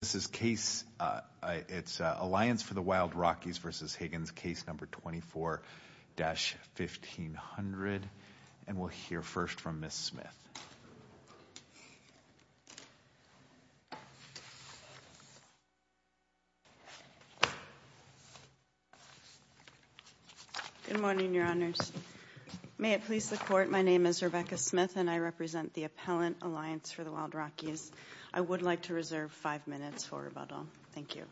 This is case, it's Alliance for the Wild Rockies v. Higgins, case number 24-1500. And we'll hear first from Ms. Smith. Good morning, your honors. May it please the court, my name is Rebecca Smith and I represent the Appellant Alliance for the Wild Rockies. I would like to reserve five minutes for rebuttal. Thank you.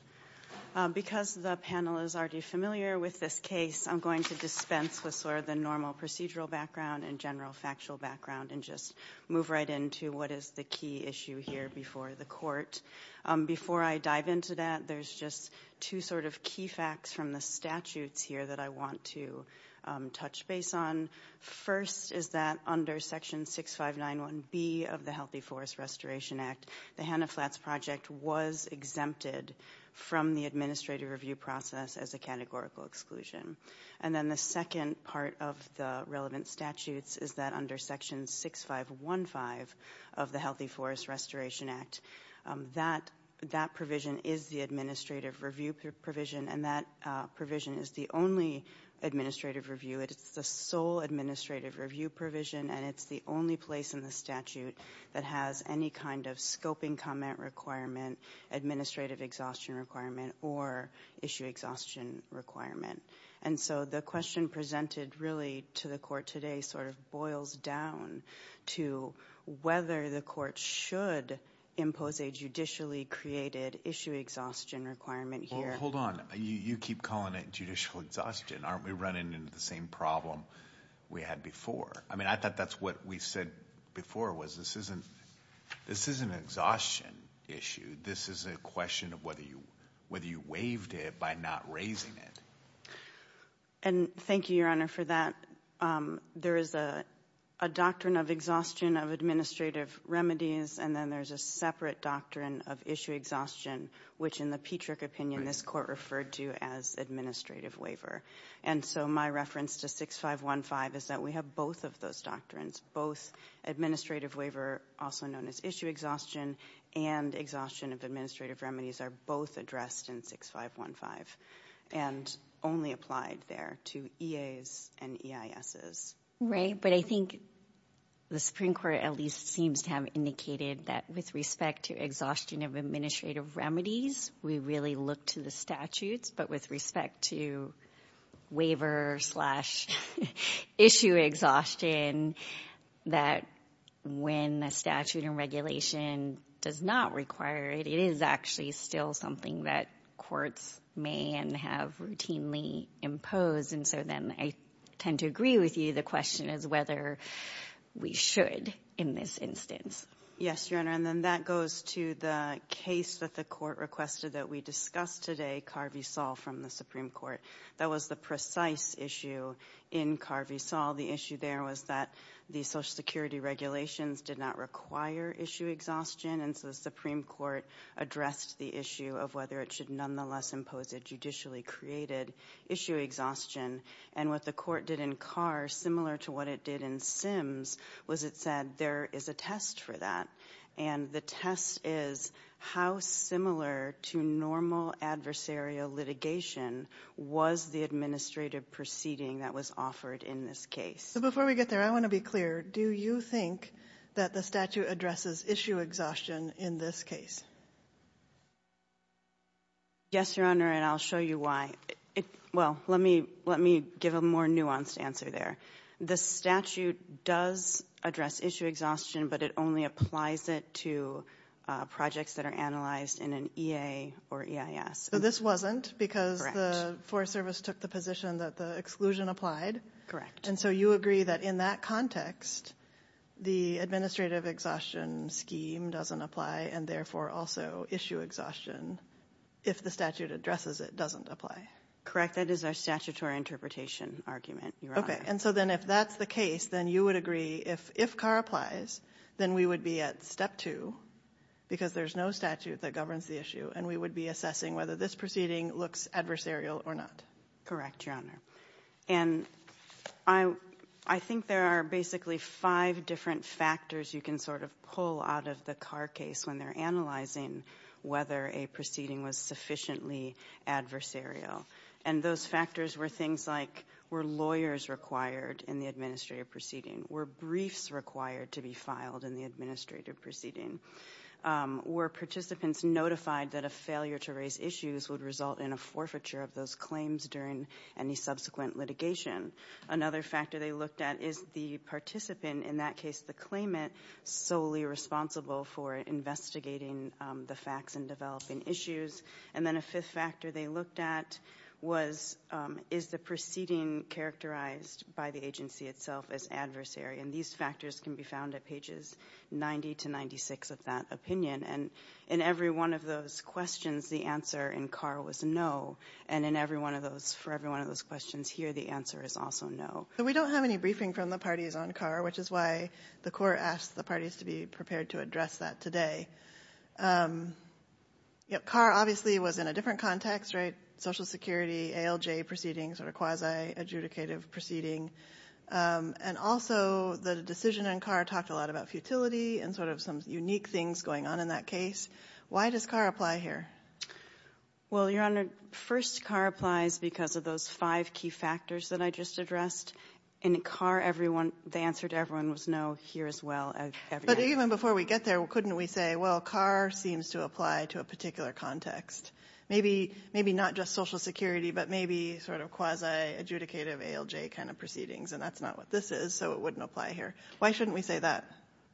Because the panel is already familiar with this case, I'm going to dispense with sort of the normal procedural background and general factual background and just move right into what is the key issue here before the court. Before I dive into that, there's just two sort of key facts from the statutes here that I want to touch base on. First is that under section 6591B of the Healthy Forest Restoration Act, the Hanna Flats Project was exempted from the administrative review process as a categorical exclusion. And then the second part of the relevant statutes is that under section 6515 of the Healthy Forest Restoration Act, that provision is the administrative review provision and that provision is the only administrative review. It's the sole administrative review provision and it's the only place in the statute that has any kind of scoping comment requirement, administrative exhaustion requirement or issue exhaustion requirement. And so the question presented really to the court today sort of boils down to whether the court should impose a judicially created issue exhaustion requirement here. Hold on. You keep calling it judicial exhaustion. Aren't we running into the same problem we had before? I mean, I thought that's what we said before was this isn't an exhaustion issue. This is a question of whether you waived it by not raising it. And thank you, Your Honor, for that. There is a doctrine of exhaustion of administrative remedies and then there's a separate doctrine of issue exhaustion, which in the Petrick opinion, this court referred to as administrative waiver. And so my reference to 6515 is that we have both of those doctrines, both administrative waiver, also known as issue exhaustion and exhaustion of administrative remedies are both addressed in 6515 and only applied there to EAs and EISs. Right. But I think the Supreme Court at least seems to have indicated that with respect to exhaustion of administrative remedies, we really look to the statutes. But with respect to waiver slash issue exhaustion, that when a statute and regulation does not require it, it is actually still something that courts may and have routinely imposed. And so then I tend to agree with you. The question is whether we should in this instance. Yes, Your Honor. And then that goes to the case that the court requested that we discuss today, Carvey-Sall from the Supreme Court. That was the precise issue in Carvey-Sall. The issue there was that the Social Security regulations did not require issue exhaustion. And so the Supreme Court addressed the issue of whether it should nonetheless impose a conditionally created issue exhaustion. And what the court did in Carr, similar to what it did in Sims, was it said there is a test for that. And the test is how similar to normal adversarial litigation was the administrative proceeding that was offered in this case. So before we get there, I want to be clear. Do you think that the statute addresses issue exhaustion in this case? Yes, Your Honor. And I'll show you why. Well, let me give a more nuanced answer there. The statute does address issue exhaustion, but it only applies it to projects that are analyzed in an EA or EIS. So this wasn't because the Forest Service took the position that the exclusion applied? And so you agree that in that context, the administrative exhaustion scheme doesn't apply and therefore also issue exhaustion if the statute addresses it doesn't apply? That is our statutory interpretation argument, Your Honor. Okay. And so then if that's the case, then you would agree if Carr applies, then we would be at step two, because there's no statute that governs the issue, and we would be assessing whether this proceeding looks adversarial or not? Correct, Your Honor. And I think there are basically five different factors you can sort of pull out of the Carr case when they're analyzing whether a proceeding was sufficiently adversarial. And those factors were things like were lawyers required in the administrative proceeding? Were briefs required to be filed in the administrative proceeding? Were participants notified that a failure to raise issues would result in a forfeiture of those claims during any subsequent litigation? Another factor they looked at is the participant, in that case the claimant, solely responsible for investigating the facts and developing issues. And then a fifth factor they looked at was is the proceeding characterized by the agency itself as adversary? And these factors can be found at pages 90 to 96 of that opinion. And in every one of those questions, the answer in Carr was no. And in every one of those, for every one of those questions here, the answer is also no. So we don't have any briefing from the parties on Carr, which is why the court asked the parties to be prepared to address that today. Carr obviously was in a different context, right? Social Security, ALJ proceedings, sort of quasi-adjudicative proceeding. And also the decision in Carr talked a lot about futility and sort of some unique things going on in that case. Why does Carr apply here? Well, Your Honor, first Carr applies because of those five key factors that I just addressed. In Carr, everyone, the answer to everyone was no here as well as everywhere. But even before we get there, couldn't we say, well, Carr seems to apply to a particular context? Maybe not just Social Security, but maybe sort of quasi-adjudicative ALJ kind of proceedings. And that's not what this is, so it wouldn't apply here. Why shouldn't we say that?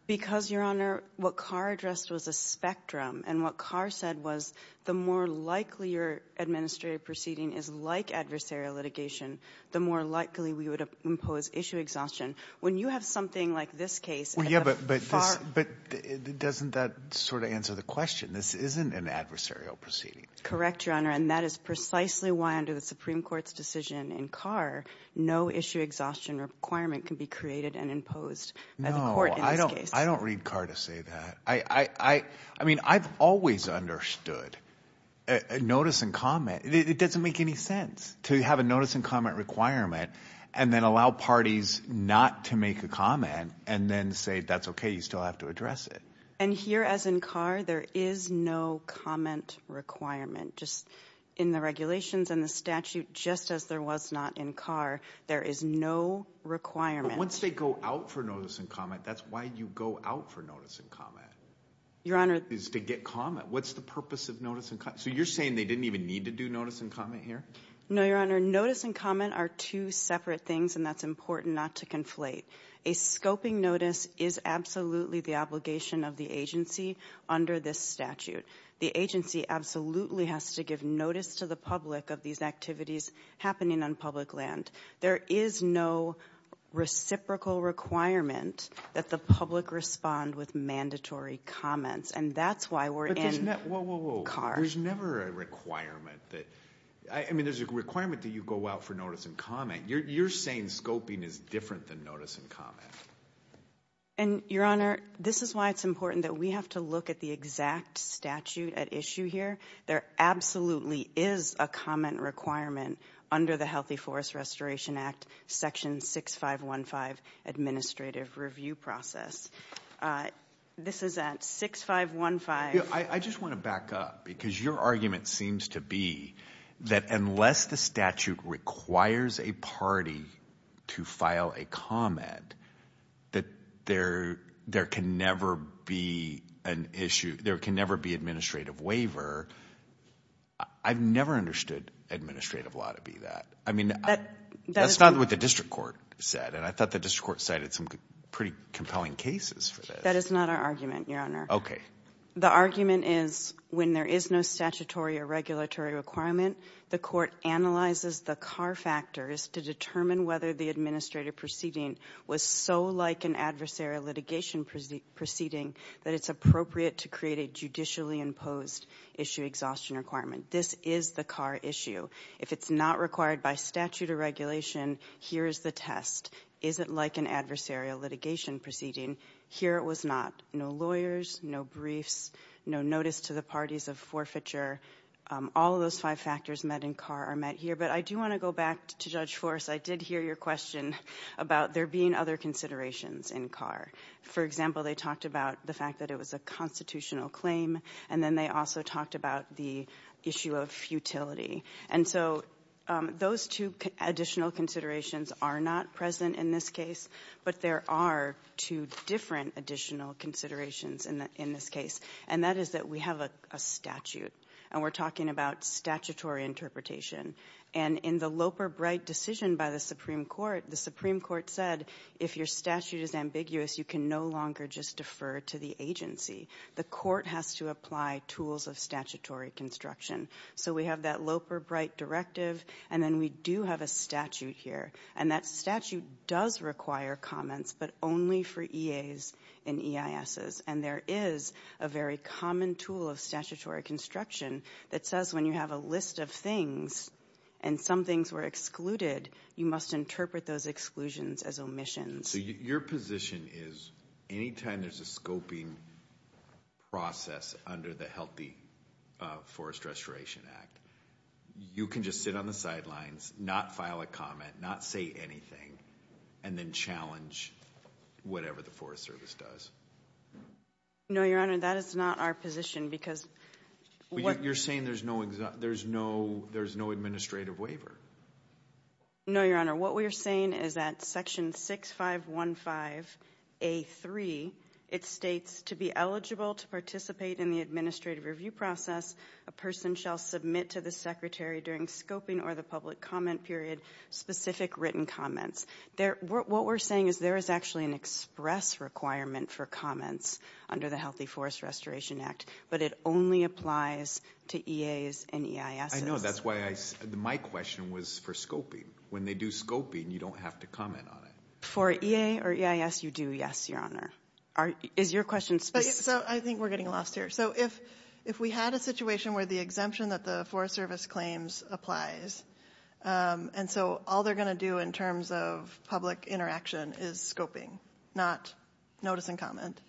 Because, Your Honor, what Carr addressed was a spectrum. And what Carr said was the more likely your administrative proceeding is like adversarial litigation, the more likely we would impose issue exhaustion. When you have something like this case at the far end of the spectrum, it doesn't that sort of answer the question. This isn't an adversarial proceeding. Correct, Your Honor. And that is precisely why under the Supreme Court's decision in Carr, no issue exhaustion requirement can be created and imposed by the court in this case. I don't read Carr to say that. I mean, I've always understood notice and comment. It doesn't make any sense to have a notice and comment requirement and then allow parties not to make a comment and then say, that's okay, you still have to address it. And here, as in Carr, there is no comment requirement. Just in the regulations and the statute, just as there was not in Carr. There is no requirement. Once they go out for notice and comment, that's why you go out for notice and comment. Your Honor. Is to get comment. What's the purpose of notice and comment? So you're saying they didn't even need to do notice and comment here? No, Your Honor. Notice and comment are two separate things and that's important not to conflate. A scoping notice is absolutely the obligation of the agency under this statute. The agency absolutely has to give notice to the public of these activities happening on public land. There is no reciprocal requirement that the public respond with mandatory comments. And that's why we're in Carr. Whoa, whoa, whoa. There's never a requirement that, I mean there's a requirement that you go out for notice and comment. You're saying scoping is different than notice and comment. And Your Honor, this is why it's important that we have to look at the exact statute at issue here. There absolutely is a comment requirement under the Healthy Forest Restoration Act, Section 6515 Administrative Review Process. This is at 6515. I just want to back up because your argument seems to be that unless the statute requires a party to file a comment, that there can never be an issue, there can never be administrative waiver. I've never understood administrative law to be that. I mean, that's not what the district court said and I thought the district court cited some pretty compelling cases for this. That is not our argument, Your Honor. Okay. The argument is when there is no statutory or regulatory requirement, the court analyzes the Carr factors to determine whether the administrative proceeding was so like an adversarial litigation proceeding that it's appropriate to create a judicially imposed issue exhaustion requirement. This is the Carr issue. If it's not required by statute or regulation, here is the test. Is it like an adversarial litigation proceeding? Here it was not. No lawyers, no briefs, no notice to the parties of forfeiture, all of those five factors met in Carr are met here. But I do want to go back to Judge Forrest. I did hear your question about there being other considerations in Carr. For example, they talked about the fact that it was a constitutional claim and then they also talked about the issue of futility. And so those two additional considerations are not present in this case, but there are two different additional considerations in this case. And that is that we have a statute, and we're talking about statutory interpretation. And in the Loper-Bright decision by the Supreme Court, the Supreme Court said if your statute is ambiguous, you can no longer just defer to the agency. The court has to apply tools of statutory construction. So we have that Loper-Bright directive, and then we do have a statute here. And that statute does require comments, but only for EAs and EISs. And there is a very common tool of statutory construction that says when you have a list of things and some things were excluded, you must interpret those exclusions as omissions. Your position is anytime there's a scoping process under the Healthy Forest Restoration Act, you can just sit on the sidelines, not file a comment, not say anything, and then challenge whatever the Forest Service does. No, Your Honor, that is not our position because... You're saying there's no administrative waiver? No, Your Honor, what we're saying is that Section 6515A3, it states, to be eligible to participate in the administrative review process, a person shall submit to the Secretary during scoping or the public comment period specific written comments. What we're saying is there is actually an express requirement for comments under the Healthy Forest Restoration Act, but it only applies to EAs and EISs. I know, that's why my question was for scoping. When they do scoping, you don't have to comment on it. For EA or EIS, you do, yes, Your Honor. Is your question... So I think we're getting lost here. So if we had a situation where the exemption that the Forest Service claims applies, and so all they're going to do in terms of public interaction is scoping, not notice and comment,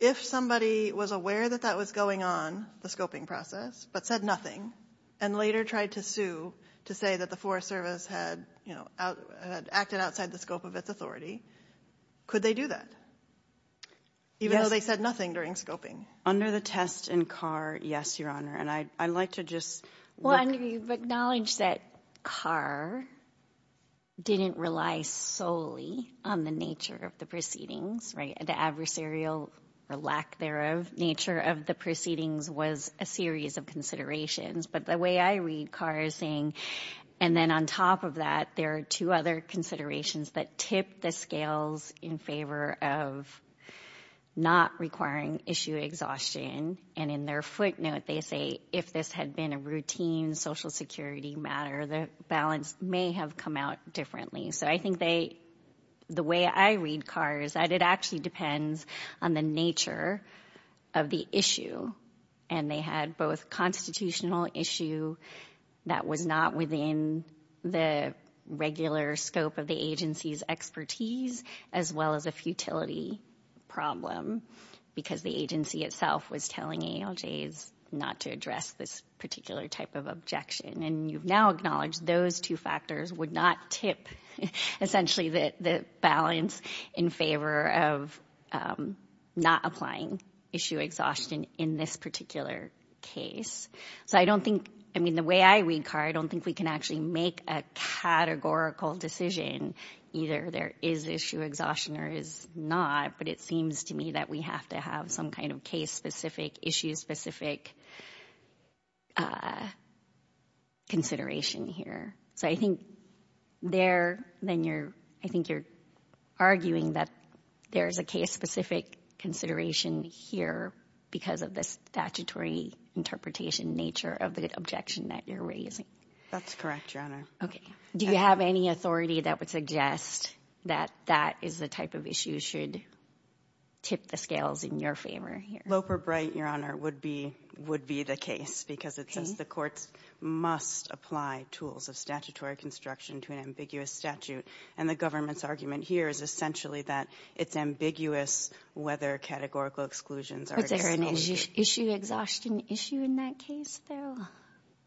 if somebody was aware that that was going on, the scoping process, but said nothing, and later tried to sue to say that the Forest Service had, you know, acted outside the scope of its authority, could they do that? Even though they said nothing during scoping? Under the test in CAR, yes, Your Honor. And I'd like to just... Well, I know you've acknowledged that CAR didn't rely solely on the nature of the proceedings, right? The adversarial or lack thereof nature of the proceedings was a series of considerations. But the way I read CAR is saying, and then on top of that, there are two other considerations that tip the scales in favor of not requiring issue exhaustion. And in their footnote, they say, if this had been a routine social security matter, the balance may have come out differently. So I think they... The way I read CAR is that it actually depends on the nature of the issue. And they had both constitutional issue that was not within the regular scope of the agency's expertise, as well as a futility problem, because the agency itself was telling ALJs not to address this particular type of objection. And you've now acknowledged those two factors would not tip, essentially, the balance in favor of not applying issue exhaustion in this particular case. So I don't think... I mean, the way I read CAR, I don't think we can actually make a categorical decision. Either there is issue exhaustion or is not, but it seems to me that we have to have some kind of case-specific, issue-specific consideration here. So I think there, then you're... I think you're arguing that there is a case-specific consideration here because of the statutory interpretation nature of the objection that you're raising. That's correct, Your Honor. Okay. Do you have any authority that would suggest that that is the type of issue should tip the scales in your favor here? Lope or Bright, Your Honor, would be the case, because it says the courts must apply tools of statutory construction to an ambiguous statute. And the government's argument here is essentially that it's ambiguous whether categorical exclusions are acceptable. But is there an issue exhaustion issue in that case, though?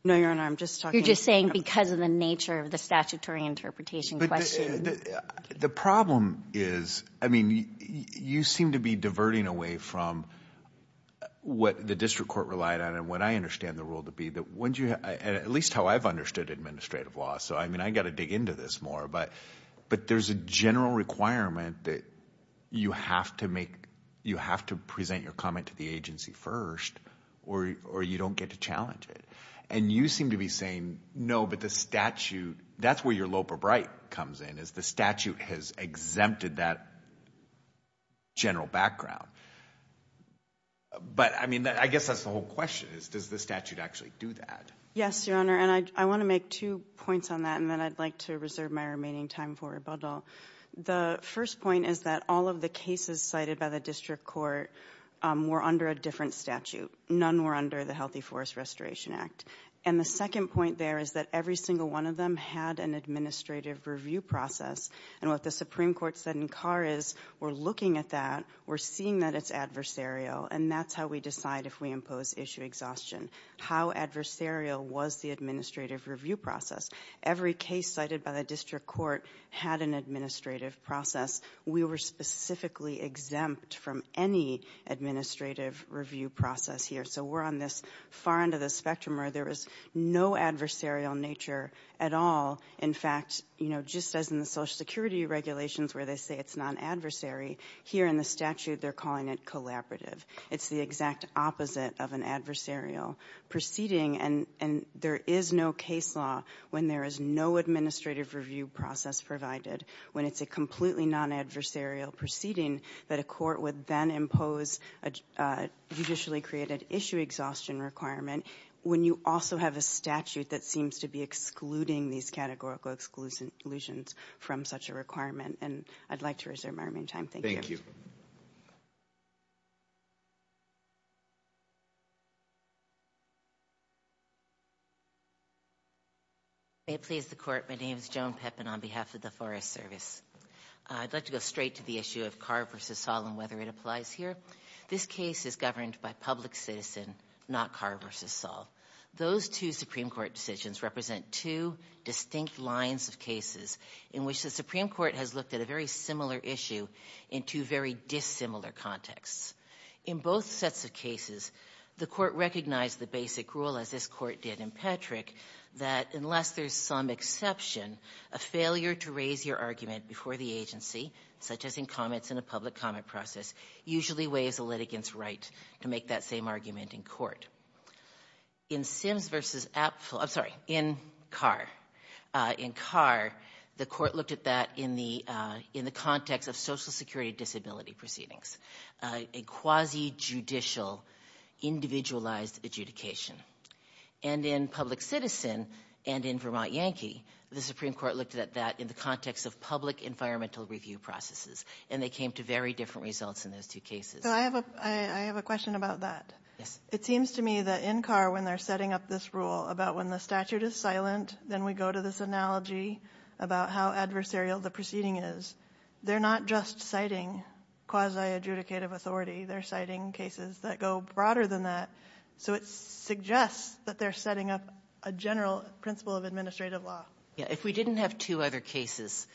No, Your Honor. I'm just talking... You're just saying because of the nature of the statutory interpretation question. The problem is, I mean, you seem to be diverting away from what the district court relied on. And what I understand the rule to be, at least how I've understood administrative law. So I mean, I got to dig into this more. But there's a general requirement that you have to make... You have to present your comment to the agency first, or you don't get to challenge it. And you seem to be saying, no, but the statute... That's where your Lope or Bright comes in, is the statute has exempted that general background. But I mean, I guess that's the whole question is, does the statute actually do that? Yes, Your Honor. And I want to make two points on that, and then I'd like to reserve my remaining time for rebuttal. The first point is that all of the cases cited by the district court were under a different statute. None were under the Healthy Forest Restoration Act. And the second point there is that every single one of them had an administrative review process. And what the Supreme Court said in Carr is, we're looking at that. We're seeing that it's adversarial, and that's how we decide if we impose issue exhaustion. How adversarial was the administrative review process? Every case cited by the district court had an administrative process. We were specifically exempt from any administrative review process here. So we're on this far end of the spectrum where there was no adversarial nature at all. In fact, just as in the Social Security regulations where they say it's non-adversary, here in the statute they're calling it collaborative. It's the exact opposite of an adversarial proceeding. And there is no case law when there is no administrative review process provided, when it's a completely non-adversarial proceeding, that a court would then impose a judicially created issue exhaustion requirement, when you also have a statute that seems to be excluding these categorical exclusions from such a requirement. And I'd like to reserve my remaining time. Thank you. May it please the Court, my name is Joan Pepin on behalf of the Forest Service. I'd like to go straight to the issue of Carr v. Saul and whether it applies here. This case is governed by public citizen, not Carr v. Saul. Those two Supreme Court decisions represent two distinct lines of cases in which the Supreme Court has looked at a very similar issue in two very dissimilar contexts. In both sets of cases, the Court recognized the basic rule, as this Court did in Petrick, that unless there's some exception, a failure to raise your argument before the agency, such as in comments in a public comment process, usually weighs a litigant's right to make that same argument in court. In Sims v. Apfel, I'm sorry, in Carr, in Carr, the Court looked at that in the context of social security disability proceedings, a quasi-judicial, individualized adjudication. And in public citizen, and in Vermont Yankee, the Supreme Court looked at that in the context of public environmental review processes, and they came to very different results in those two cases. So I have a question about that. Yes. It seems to me that in Carr, when they're setting up this rule about when the statute is silent, then we go to this analogy about how adversarial the proceeding is. They're not just citing quasi-adjudicative authority. They're citing cases that go broader than that. So it suggests that they're setting up a general principle of administrative law. Yeah. If we didn't have two other cases,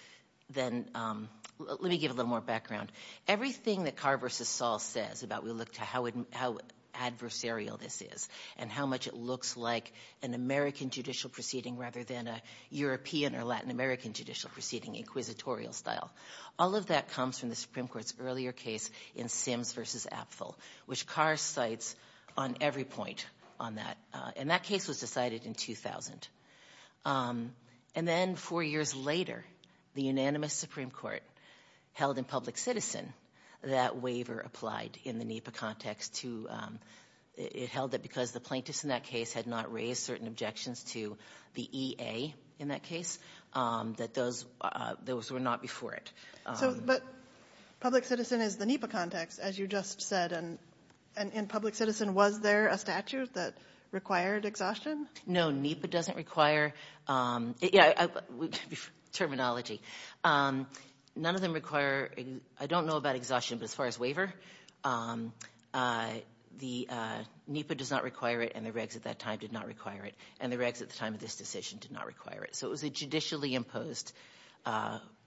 then let me give a little more background. Everything that Carr v. Saul says about how adversarial this is and how much it looks like an American judicial proceeding rather than a European or Latin American judicial proceeding, inquisitorial style, all of that comes from the Supreme Court's earlier case in Sims v. Apfel, which Carr cites on every point on that. And that case was decided in 2000. And then four years later, the unanimous Supreme Court held in public citizen that waiver applied in the NEPA context to the plaintiffs in that case had not raised certain objections to the EA in that case, that those were not before it. But public citizen is the NEPA context, as you just said. And in public citizen, was there a statute that required exhaustion? No, NEPA doesn't require terminology. None of them require – I don't know about exhaustion, but as far as waiver, NEPA does not require it and the regs at that time did not require it, and the regs at the time of this decision did not require it. So it was a judicially imposed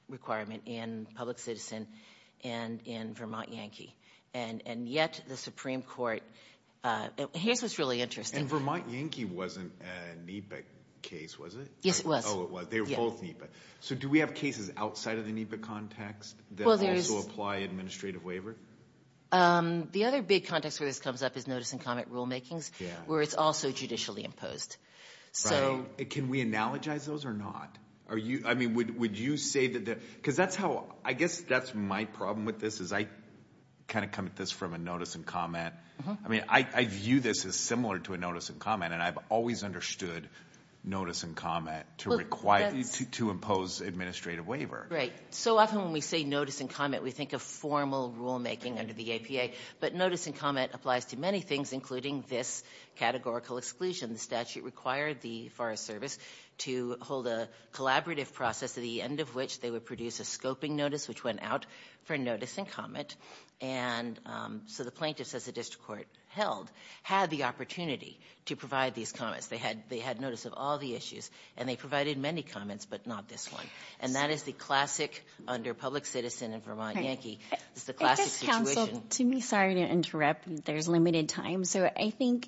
requirement in public citizen and in Vermont Yankee. And yet the Supreme Court – here's what's really interesting. And Vermont Yankee wasn't a NEPA case, was it? Yes, it was. Oh, it was. They were both NEPA. So do we have cases outside of the NEPA context that also apply administrative waiver? The other big context where this comes up is notice and comment rulemakings, where it's also judicially imposed. Can we analogize those or not? I mean, would you say that – because that's how – I guess that's my problem with this is I kind of come at this from a notice and comment. I mean, I view this as similar to a notice and comment, and I've always understood notice and comment to impose administrative waiver. Right. So often when we say notice and comment, we think of formal rulemaking under the APA. But notice and comment applies to many things, including this categorical exclusion. The statute required the Forest Service to hold a collaborative process at the end of which they would produce a scoping notice, which went out for notice and comment. And so the plaintiffs, as the district court held, had the opportunity to provide these comments. They had notice of all the issues, and they provided many comments, but not this one. And that is the classic, under public citizen and Vermont Yankee, is the classic situation. I guess, counsel, to me – sorry to interrupt. There's limited time. So I think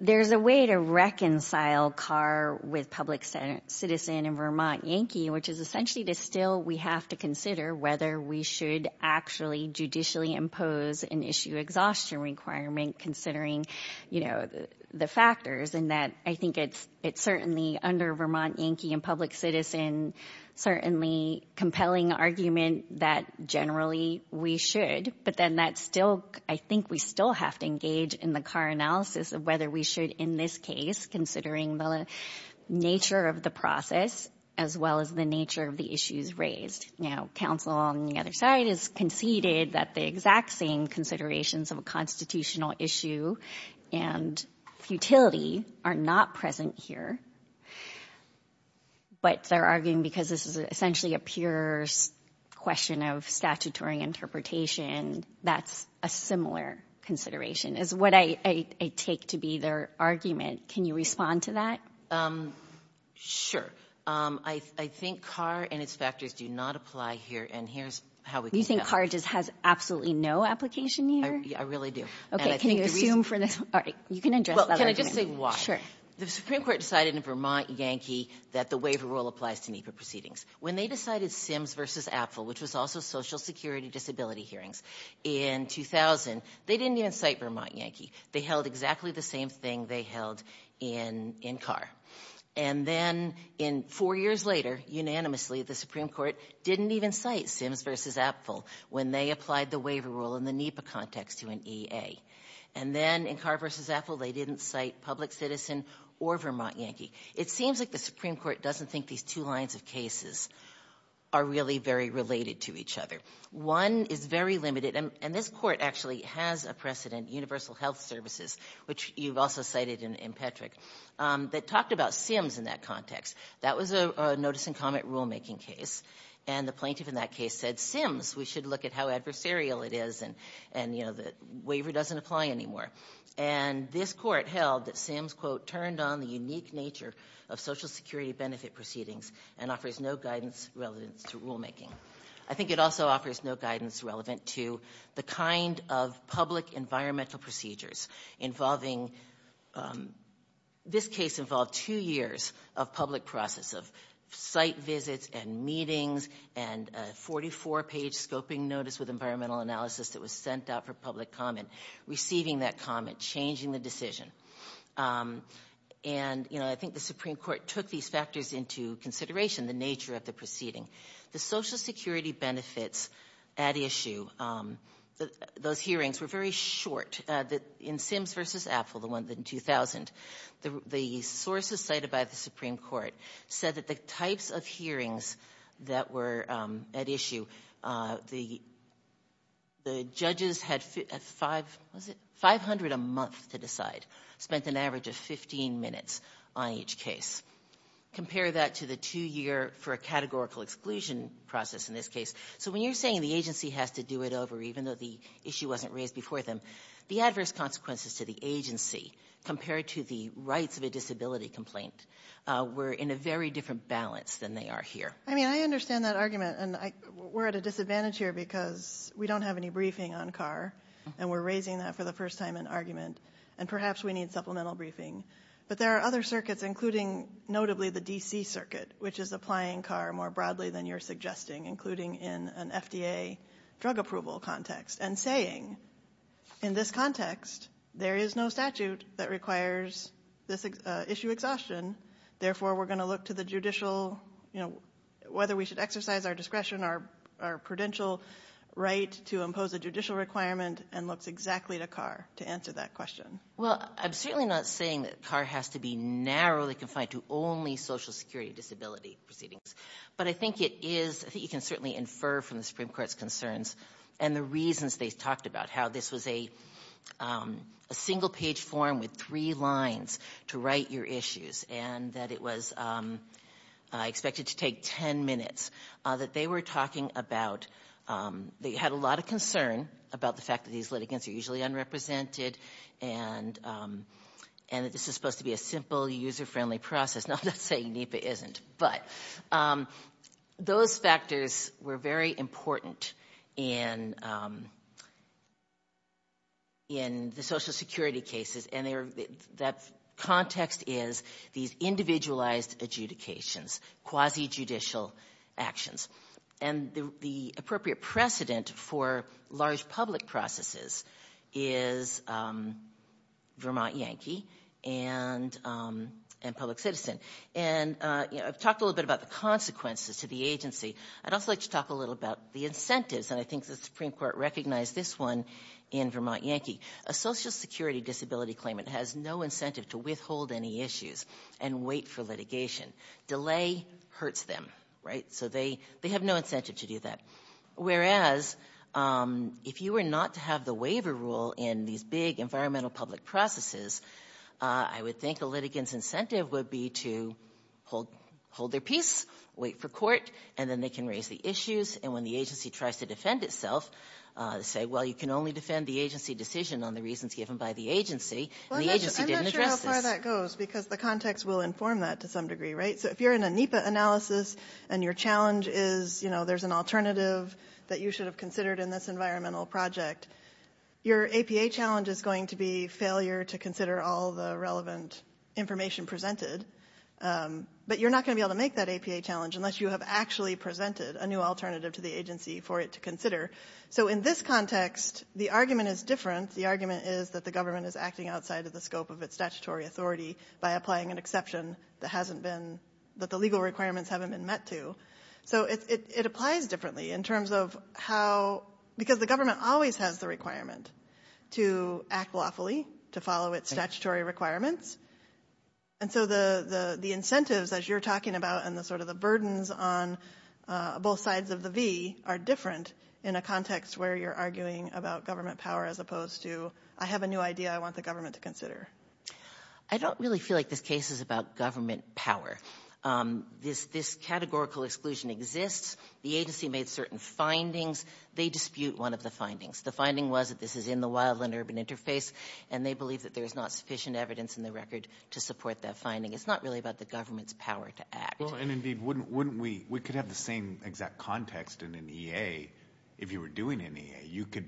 there's a way to reconcile CAR with public citizen and Vermont Yankee, which is essentially that still we have to consider whether we should actually judicially impose an issue exhaustion requirement considering, you know, the factors, and that I think it's certainly under Vermont Yankee and public citizen, certainly compelling argument that generally we should. But then that's still – I think we still have to engage in the CAR analysis of whether we should in this case, considering the nature of the process as well as the nature of the issues raised. Now, counsel on the other side has conceded that the exact same considerations of a constitutional issue and futility are not present here. But they're arguing because this is essentially a pure question of statutory interpretation, that's a similar consideration, is what I take to be their argument. Can you respond to that? Sure. I think CAR and its factors do not apply here, and here's how we can – You think CAR just has absolutely no application here? I really do. Okay, can you assume for this – all right, you can address that argument. Well, can I just say why? Sure. The Supreme Court decided in Vermont Yankee that the waiver rule applies to NEPA proceedings. When they decided SIMS versus APFL, which was also Social Security Disability Hearings in 2000, they didn't even cite Vermont Yankee. They held exactly the same thing they held in CAR. And then four years later, unanimously, the Supreme Court didn't even cite SIMS versus APFL when they applied the waiver rule in the NEPA context to an EA. And then in CAR versus APFL, they didn't cite public citizen or Vermont Yankee. It seems like the Supreme Court doesn't think these two lines of cases are really very related to each other. One is very limited, and this court actually has a precedent, Universal Health Services, which you've also cited in Petrick, that talked about SIMS in that context. That was a notice-and-comment rulemaking case, and the plaintiff in that case said, SIMS, we should look at how adversarial it is, and, you know, the waiver doesn't apply anymore. And this court held that SIMS, quote, turned on the unique nature of Social Security benefit proceedings and offers no guidance relevant to rulemaking. I think it also offers no guidance relevant to the kind of public environmental procedures involving this case involved two years of public process of site visits and meetings and a 44-page scoping notice with environmental analysis that was sent out for public comment, receiving that comment, changing the decision. And, you know, I think the Supreme Court took these factors into consideration, the nature of the proceeding. The Social Security benefits at issue, those hearings were very short. In SIMS v. Apple, the one in 2000, the sources cited by the Supreme Court said that the types of hearings that were at issue, the judges had 500 a month to decide, spent an average of 15 minutes on each case. Compare that to the two-year for a categorical exclusion process in this case. So when you're saying the agency has to do it over even though the issue wasn't raised before them, the adverse consequences to the agency compared to the rights of a disability complaint were in a very different balance than they are here. I mean, I understand that argument, and we're at a disadvantage here because we don't have any briefing on CAR, and we're raising that for the first time in argument, and perhaps we need supplemental briefing. But there are other circuits, including notably the D.C. Circuit, which is applying CAR more broadly than you're suggesting, including in an FDA drug approval context, and saying, in this context, there is no statute that requires this issue exhaustion. Therefore, we're going to look to the judicial, you know, whether we should exercise our discretion, our prudential right to impose a judicial requirement, and looks exactly to CAR to answer that question. Well, I'm certainly not saying that CAR has to be narrowly confined to only social security disability proceedings. But I think it is – I think you can certainly infer from the Supreme Court's concerns and the reasons they talked about how this was a single-page form with three lines to write your issues, and that it was expected to take 10 minutes, that they were talking about – they had a lot of concern about the fact that these litigants are usually unrepresented and that this is supposed to be a simple, user-friendly process. Now, I'm not saying NEPA isn't, but those factors were very important in the social security cases, and that context is these individualized adjudications, quasi-judicial actions. And the appropriate precedent for large public processes is Vermont Yankee and public citizen. And I've talked a little bit about the consequences to the agency. I'd also like to talk a little about the incentives, and I think the Supreme Court recognized this one in Vermont Yankee. A social security disability claimant has no incentive to withhold any issues and wait for litigation. Delay hurts them, right? So they have no incentive to do that. Whereas, if you were not to have the waiver rule in these big environmental public processes, I would think a litigant's incentive would be to hold their peace, wait for court, and then they can raise the issues. And when the agency tries to defend itself, say, well, you can only defend the agency decision on the reasons given by the agency, and the agency didn't address this. That's where that goes, because the context will inform that to some degree, right? So if you're in a NEPA analysis and your challenge is, you know, there's an alternative that you should have considered in this environmental project, your APA challenge is going to be failure to consider all the relevant information presented. But you're not going to be able to make that APA challenge unless you have actually presented a new alternative to the agency for it to consider. So in this context, the argument is different. The argument is that the government is acting outside of the scope of its statutory authority by applying an exception that hasn't been, that the legal requirements haven't been met to. So it applies differently in terms of how, because the government always has the requirement to act lawfully, to follow its statutory requirements. And so the incentives, as you're talking about, and the sort of the burdens on both sides of the V are different in a context where you're arguing about government power as opposed to, I have a new idea I want the government to consider. I don't really feel like this case is about government power. This categorical exclusion exists. The agency made certain findings. They dispute one of the findings. The finding was that this is in the wildland-urban interface, and they believe that there's not sufficient evidence in the record to support that finding. It's not really about the government's power to act. Well, and indeed, wouldn't we, we could have the same exact context in an EA if you were doing an EA. You could,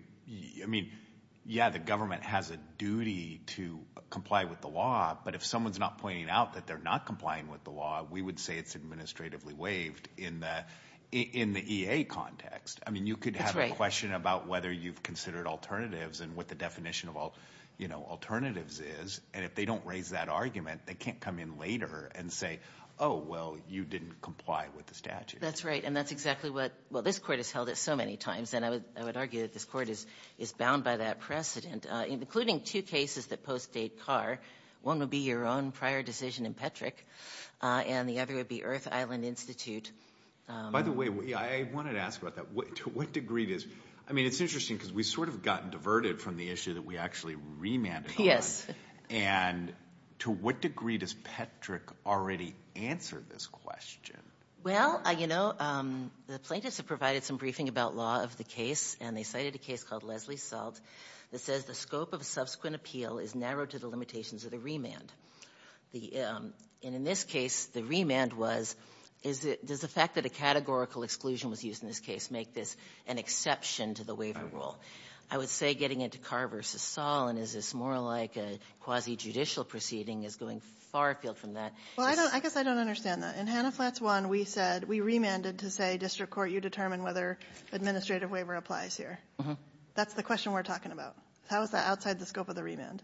I mean, yeah, the government has a duty to comply with the law, but if someone's not pointing out that they're not complying with the law, we would say it's administratively waived in the EA context. I mean, you could have a question about whether you've considered alternatives and what the definition of alternatives is, and if they don't raise that argument, they can't come in later and say, oh, well, you didn't comply with the statute. That's right, and that's exactly what, well, this court has held it so many times, and I would argue that this court is bound by that precedent, including two cases that post-date Carr. One would be your own prior decision in Petrick, and the other would be Earth Island Institute. By the way, I wanted to ask about that. To what degree does, I mean, it's interesting because we've sort of gotten diverted from the issue that we actually remanded on. Yes. And to what degree does Petrick already answer this question? Well, you know, the plaintiffs have provided some briefing about law of the case, and they cited a case called Leslie Salt that says the scope of subsequent appeal is narrowed to the limitations of the remand. And in this case, the remand was, does the fact that a categorical exclusion was used in this case make this an exception to the waiver rule? I would say getting into Carr v. Saul, and is this more like a quasi-judicial proceeding, is going far afield from that. Well, I don't, I guess I don't understand that. In Hannah Flats I, we said, we remanded to say district court, you determine whether administrative waiver applies here. That's the question we're talking about. How is that outside the scope of the remand?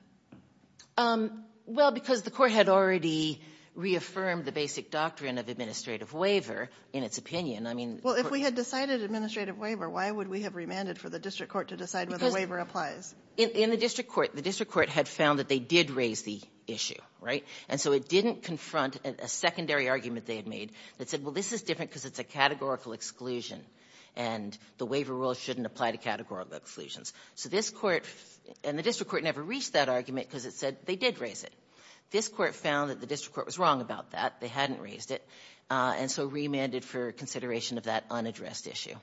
Well, because the court had already reaffirmed the basic doctrine of administrative waiver in its opinion. Well, if we had decided administrative waiver, why would we have remanded for the district court to decide whether waiver applies? Because in the district court, the district court had found that they did raise the issue, right? And so it didn't confront a secondary argument they had made that said, well, this is different because it's a categorical exclusion, and the waiver rule shouldn't apply to categorical exclusions. So this Court, and the district court never reached that argument because it said they did raise it. This Court found that the district court was wrong about that. They hadn't raised it. And so remanded for consideration of that unaddressed issue.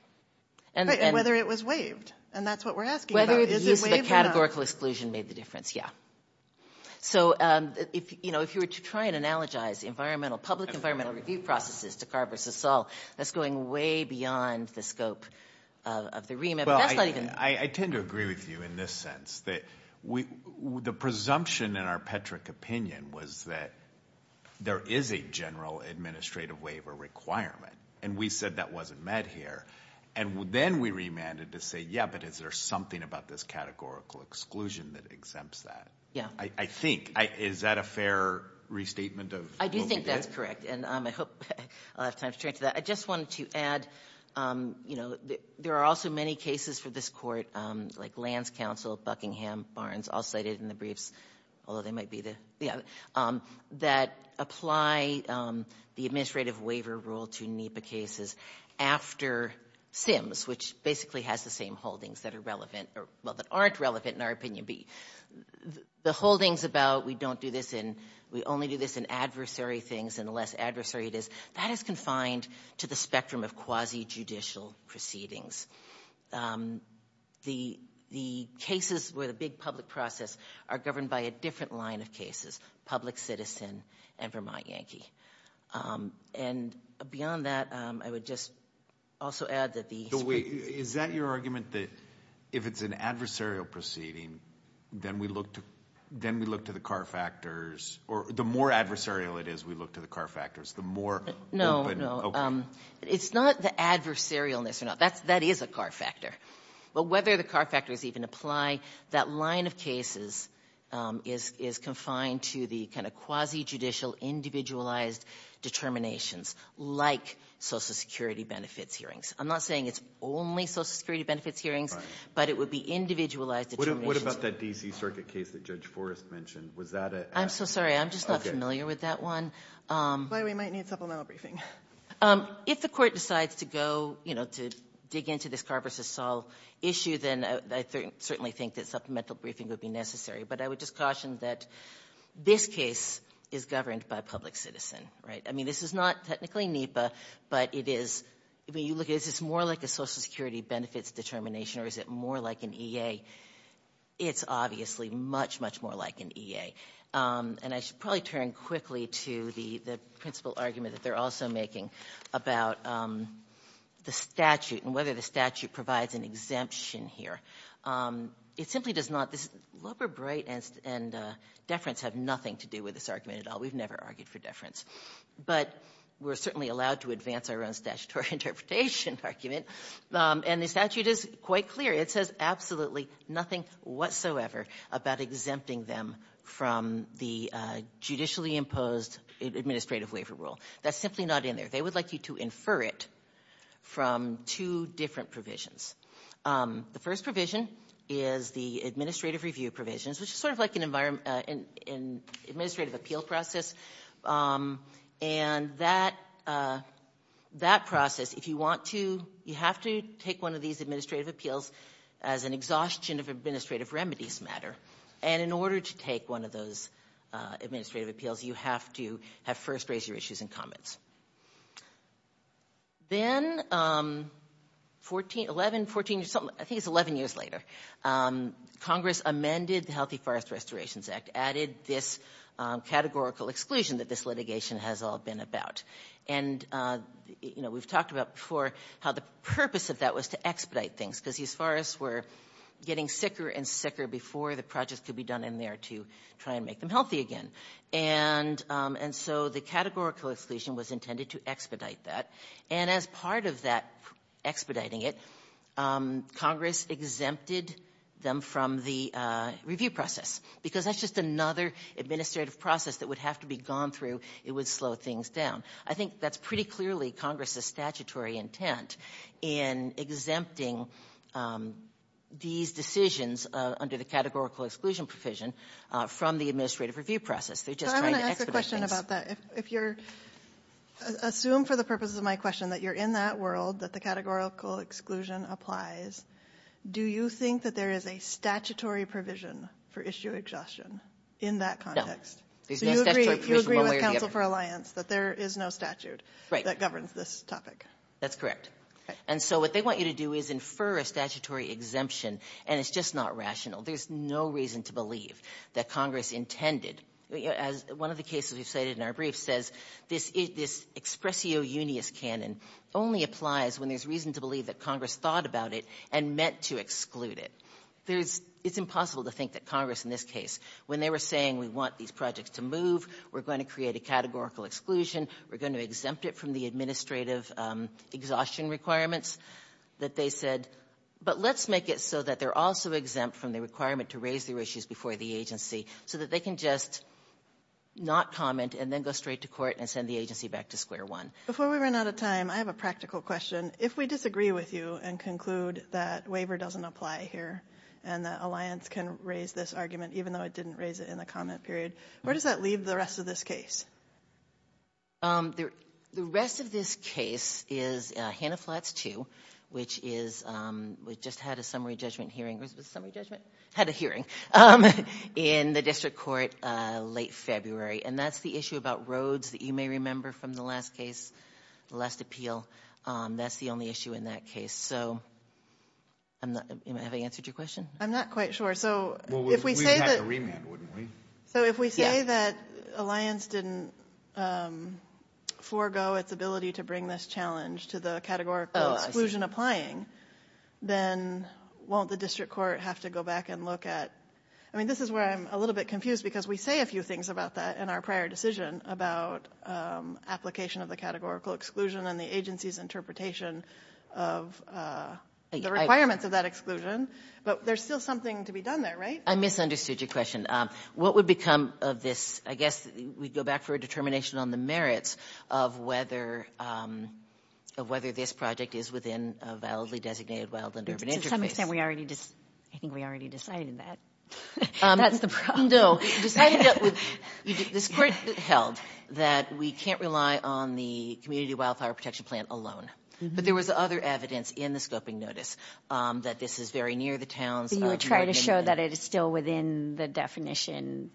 But whether it was waived, and that's what we're asking about. Whether the use of the categorical exclusion made the difference, yeah. So, you know, if you were to try and analogize environmental, public environmental review processes to Carr v. Saul, that's going way beyond the scope of the remand. Well, I tend to agree with you in this sense. The presumption in our Petrick opinion was that there is a general administrative waiver requirement. And we said that wasn't met here. And then we remanded to say, yeah, but is there something about this categorical exclusion that exempts that? Yeah. I think. Is that a fair restatement of what we did? I do think that's correct. And I hope I'll have time to turn to that. I just wanted to add, you know, there are also many cases for this court, like Lands Council, Buckingham, Barnes, all cited in the briefs, although they might be the other, that apply the administrative waiver rule to NEPA cases after SIMS, which basically has the same holdings that are relevant or, well, that aren't relevant in our opinion. The holdings about we don't do this in, we only do this in adversary things and the less adversary it is, that is confined to the spectrum of quasi-judicial proceedings. The cases where the big public process are governed by a different line of cases, public citizen and Vermont Yankee. And beyond that, I would just also add that the. Is that your argument that if it's an adversarial proceeding, then we look to the car factors, or the more adversarial it is, we look to the car factors, the more open. No, no. It's not the adversarialness or not. That is a car factor. But whether the car factors even apply, that line of cases is confined to the kind of quasi-judicial, individualized determinations like Social Security benefits hearings. I'm not saying it's only Social Security benefits hearings, but it would be individualized determinations. What about that D.C. Circuit case that Judge Forrest mentioned? Was that a... I'm so sorry. I'm just not familiar with that one. We might need supplemental briefing. If the court decides to go, you know, to dig into this Carver v. Saul issue, then I certainly think that supplemental briefing would be necessary. But I would just caution that this case is governed by public citizen, right? I mean, this is not technically NEPA, but it is... I mean, you look at it, is this more like a Social Security benefits determination or is it more like an EA? It's obviously much, much more like an EA. And I should probably turn quickly to the principal argument that they're also making about the statute and whether the statute provides an exemption here. It simply does not... This Lubber, Bright, and Deference have nothing to do with this argument at all. We've never argued for deference. But we're certainly allowed to advance our own statutory interpretation argument, and the statute is quite clear. It says absolutely nothing whatsoever about exempting them from the judicially imposed administrative waiver rule. That's simply not in there. They would like you to infer it from two different provisions. The first provision is the administrative review provisions, which is sort of like an administrative appeal process. And that process, if you want to, you have to take one of these administrative appeals as an exhaustion of administrative remedies matter. And in order to take one of those administrative appeals, you have to first raise your issues and comments. Then, I think it's 11 years later, Congress amended the Healthy Forest Restorations Act, added this categorical exclusion that this litigation has all been about. And, you know, we've talked about before how the purpose of that was to expedite things, because these forests were getting sicker and sicker before the projects could be done in there to try and make them healthy again. And so the categorical exclusion was intended to expedite that. And as part of that expediting it, Congress exempted them from the review process, because that's just another administrative process that would have to be gone through. It would slow things down. I think that's pretty clearly Congress's statutory intent in exempting these decisions under the categorical exclusion provision from the administrative review process. They're just trying to expedite things. So I want to ask a question about that. If you're assume, for the purposes of my question, that you're in that world, that the categorical exclusion applies, do you think that there is a statutory provision for issue exhaustion in that context? There's no statutory provision one way or the other. So you agree with Counsel for Alliance that there is no statute that governs this topic? Right. That's correct. And so what they want you to do is infer a statutory exemption, and it's just not rational. There's no reason to believe that Congress intended. As one of the cases we've cited in our brief says, this expressio unius canon only applies when there's reason to believe that Congress thought about it and meant to exclude it. There is — it's impossible to think that Congress in this case, when they were saying we want these projects to move, we're going to create a categorical exclusion, we're going to exempt it from the administrative exhaustion requirements, that they said, but let's make it so that they're also exempt from the requirement to raise their issues before the agency so that they can just not comment and then go straight to court and send the agency back to square one. Before we run out of time, I have a practical question. If we disagree with you and conclude that waiver doesn't apply here and that Alliance can raise this argument even though it didn't raise it in the comment period, where does that leave the rest of this case? The rest of this case is Hanna-Flatts 2, which is — we just had a summary judgment hearing. Was it a summary judgment? Had a hearing in the district court late February, and that's the issue about roads that you may remember from the last case, the last appeal. That's the only issue in that case. So I'm not — have I answered your question? I'm not quite sure. So if we say that — Well, we would have to remand, wouldn't we? Yeah. So if we say that Alliance didn't forego its ability to bring this challenge to the categorical exclusion applying, then won't the district court have to go back and look at — I mean, this is where I'm a little bit confused because we say a few things about that in our prior decision about application of the categorical exclusion and the agency's interpretation of the requirements of that exclusion. But there's still something to be done there, right? I misunderstood your question. What would become of this — I guess we'd go back for a determination on the merits of whether — of whether this project is within a validly designated wildland-urban interface. To some extent, we already — I think we already decided that. That's the problem. We decided that — this court held that we can't rely on the community wildfire protection plan alone. But there was other evidence in the scoping notice that this is very near the town's — But you would try to show that it is still within the definition,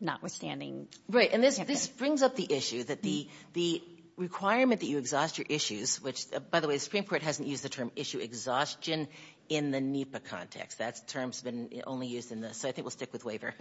notwithstanding — Right. And this brings up the issue that the requirement that you exhaust your issues, which, by the way, the Supreme Court hasn't used the term issue exhaustion in the NEPA context. That term's been only used in the — so I think we'll stick with waiver.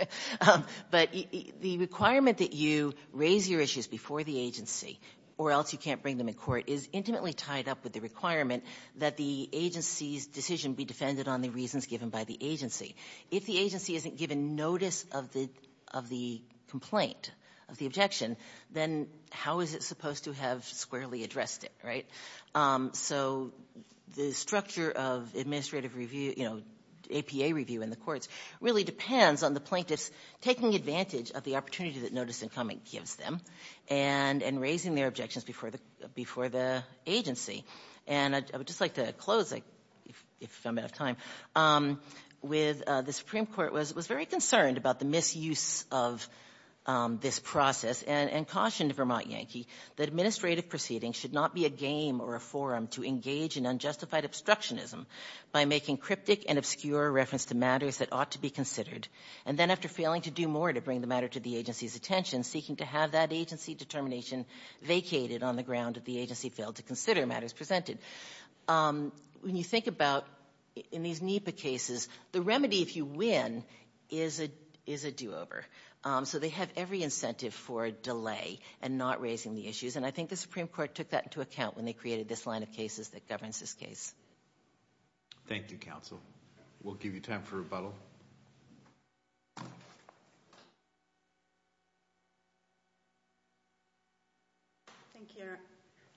But the requirement that you raise your issues before the agency or else you can't bring them in court is intimately tied up with the requirement that the agency's decision be defended on the reasons given by the agency. If the agency isn't given notice of the complaint, of the objection, then how is it supposed to have squarely addressed it? So the structure of administrative review — you know, APA review in the courts really depends on the plaintiffs taking advantage of the opportunity that notice-incoming gives them and raising their objections before the agency. And I would just like to close, if I'm out of time, with the Supreme Court was very concerned about the misuse of this process. And cautioned Vermont Yankee that administrative proceedings should not be a game or a forum to engage in unjustified obstructionism by making cryptic and obscure reference to matters that ought to be considered. And then after failing to do more to bring the matter to the agency's attention, seeking to have that agency determination vacated on the ground that the agency failed to consider matters presented. When you think about, in these NEPA cases, the remedy, if you win, is a do-over. So they have every incentive for a delay and not raising the issues. And I think the Supreme Court took that into account when they created this line of cases that governs this case. Thank you, Counsel. We'll give you time for rebuttal. Thank you,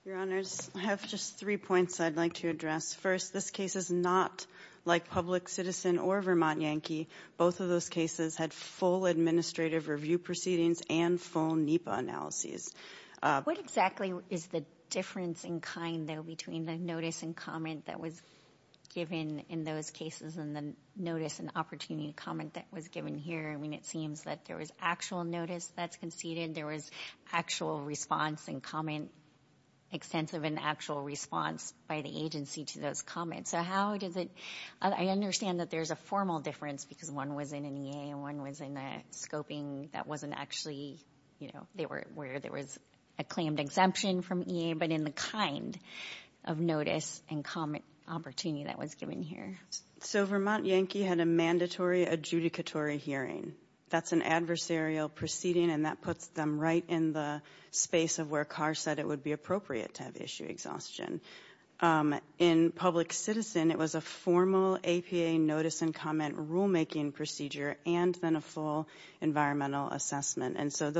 Your Honors. I have just three points I'd like to address. First, this case is not like Public Citizen or Vermont Yankee. Both of those cases had full administrative review proceedings and full NEPA analyses. What exactly is the difference in kind, though, between the notice and comment that was given in those cases and the notice and opportunity to comment that was given here? I mean, it seems that there was actual notice that's conceded. There was actual response and comment, extensive and actual response by the agency to those comments. I understand that there's a formal difference because one was in an EA and one was in the scoping that wasn't actually where there was a claimed exemption from EA, but in the kind of notice and comment opportunity that was given here. So Vermont Yankee had a mandatory adjudicatory hearing. That's an adversarial proceeding, and that puts them right in the space of where Carr said it would be appropriate to have issue exhaustion. In Public Citizen, it was a formal APA notice and comment rulemaking procedure and then a full environmental assessment. And so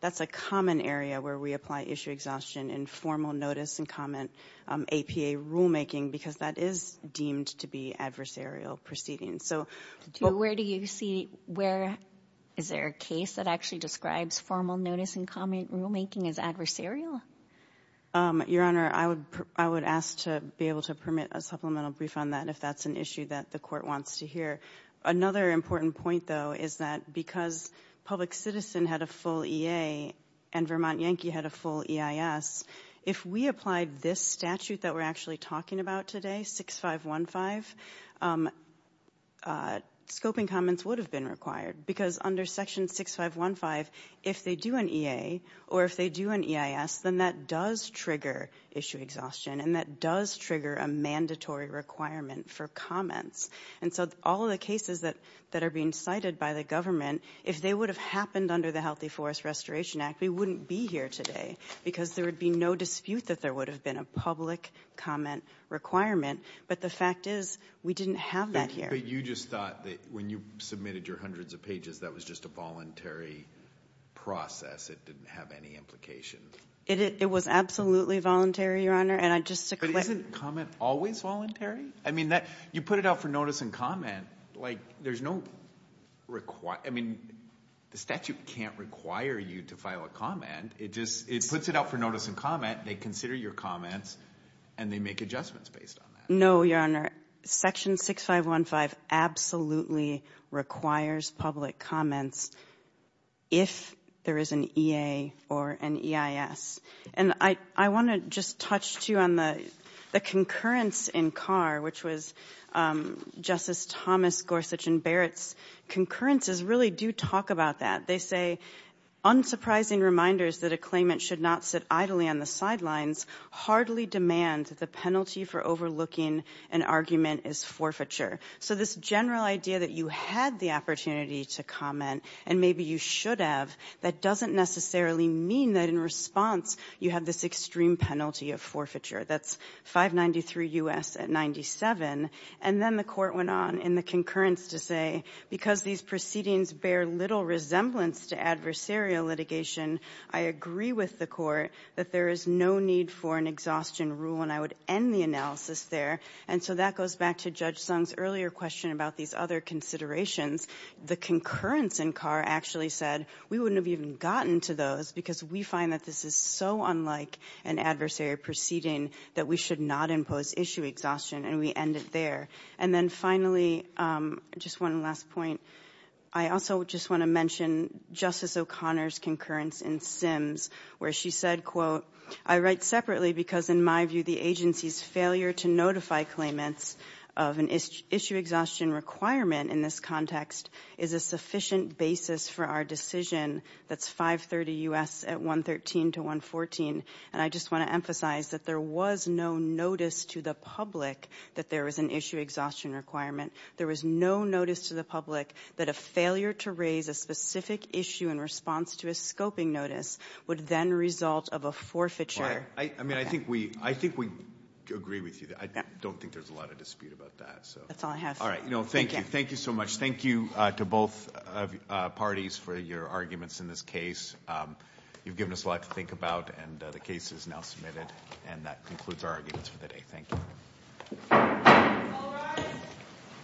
that's a common area where we apply issue exhaustion in formal notice and comment APA rulemaking because that is deemed to be adversarial proceedings. Where is there a case that actually describes formal notice and comment rulemaking as adversarial? Your Honor, I would ask to be able to permit a supplemental brief on that if that's an issue that the Court wants to hear. Another important point, though, is that because Public Citizen had a full EA and Vermont Yankee had a full EIS, if we applied this statute that we're actually talking about today, 6515, scoping comments would have been required because under Section 6515, if they do an EA or if they do an EIS, then that does trigger issue exhaustion and that does trigger a mandatory requirement for comments. And so all of the cases that are being cited by the government, if they would have happened under the Healthy Forest Restoration Act, we wouldn't be here today because there would be no dispute that there would have been a public comment requirement. But the fact is we didn't have that here. But you just thought that when you submitted your hundreds of pages, that was just a voluntary process. It didn't have any implication. It was absolutely voluntary, Your Honor. But isn't comment always voluntary? I mean, you put it out for notice and comment. There's no requirement. I mean, the statute can't require you to file a comment. It puts it out for notice and comment. They consider your comments and they make adjustments based on that. No, Your Honor, Section 6515 absolutely requires public comments if there is an EA or an EIS. And I want to just touch, too, on the concurrence in Carr, which was Justice Thomas, Gorsuch, and Barrett's concurrences really do talk about that. They say, Unsurprising reminders that a claimant should not sit idly on the sidelines hardly demands that the penalty for overlooking an argument is forfeiture. So this general idea that you had the opportunity to comment and maybe you should have, that doesn't necessarily mean that in response you have this extreme penalty of forfeiture. That's 593 U.S. at 97. And then the Court went on in the concurrence to say, Because these proceedings bear little resemblance to adversarial litigation, I agree with the Court that there is no need for an exhaustion rule and I would end the analysis there. And so that goes back to Judge Sung's earlier question about these other considerations. The concurrence in Carr actually said, We wouldn't have even gotten to those because we find that this is so unlike an adversarial proceeding that we should not impose issue exhaustion. And we end it there. And then finally, just one last point, I also just want to mention Justice O'Connor's concurrence in Sims where she said, I write separately because in my view the agency's failure to notify claimants of an issue exhaustion requirement in this context is a sufficient basis for our decision that's 530 U.S. at 113 to 114. And I just want to emphasize that there was no notice to the public that there was an issue exhaustion requirement. There was no notice to the public that a failure to raise a specific issue in response to a scoping notice would then result of a forfeiture. I mean, I think we agree with you. I don't think there's a lot of dispute about that. That's all I have. All right. Thank you. Thank you so much. Thank you to both parties for your arguments in this case. You've given us a lot to think about and the case is now submitted. And that concludes our arguments for the day. Thank you. All rise.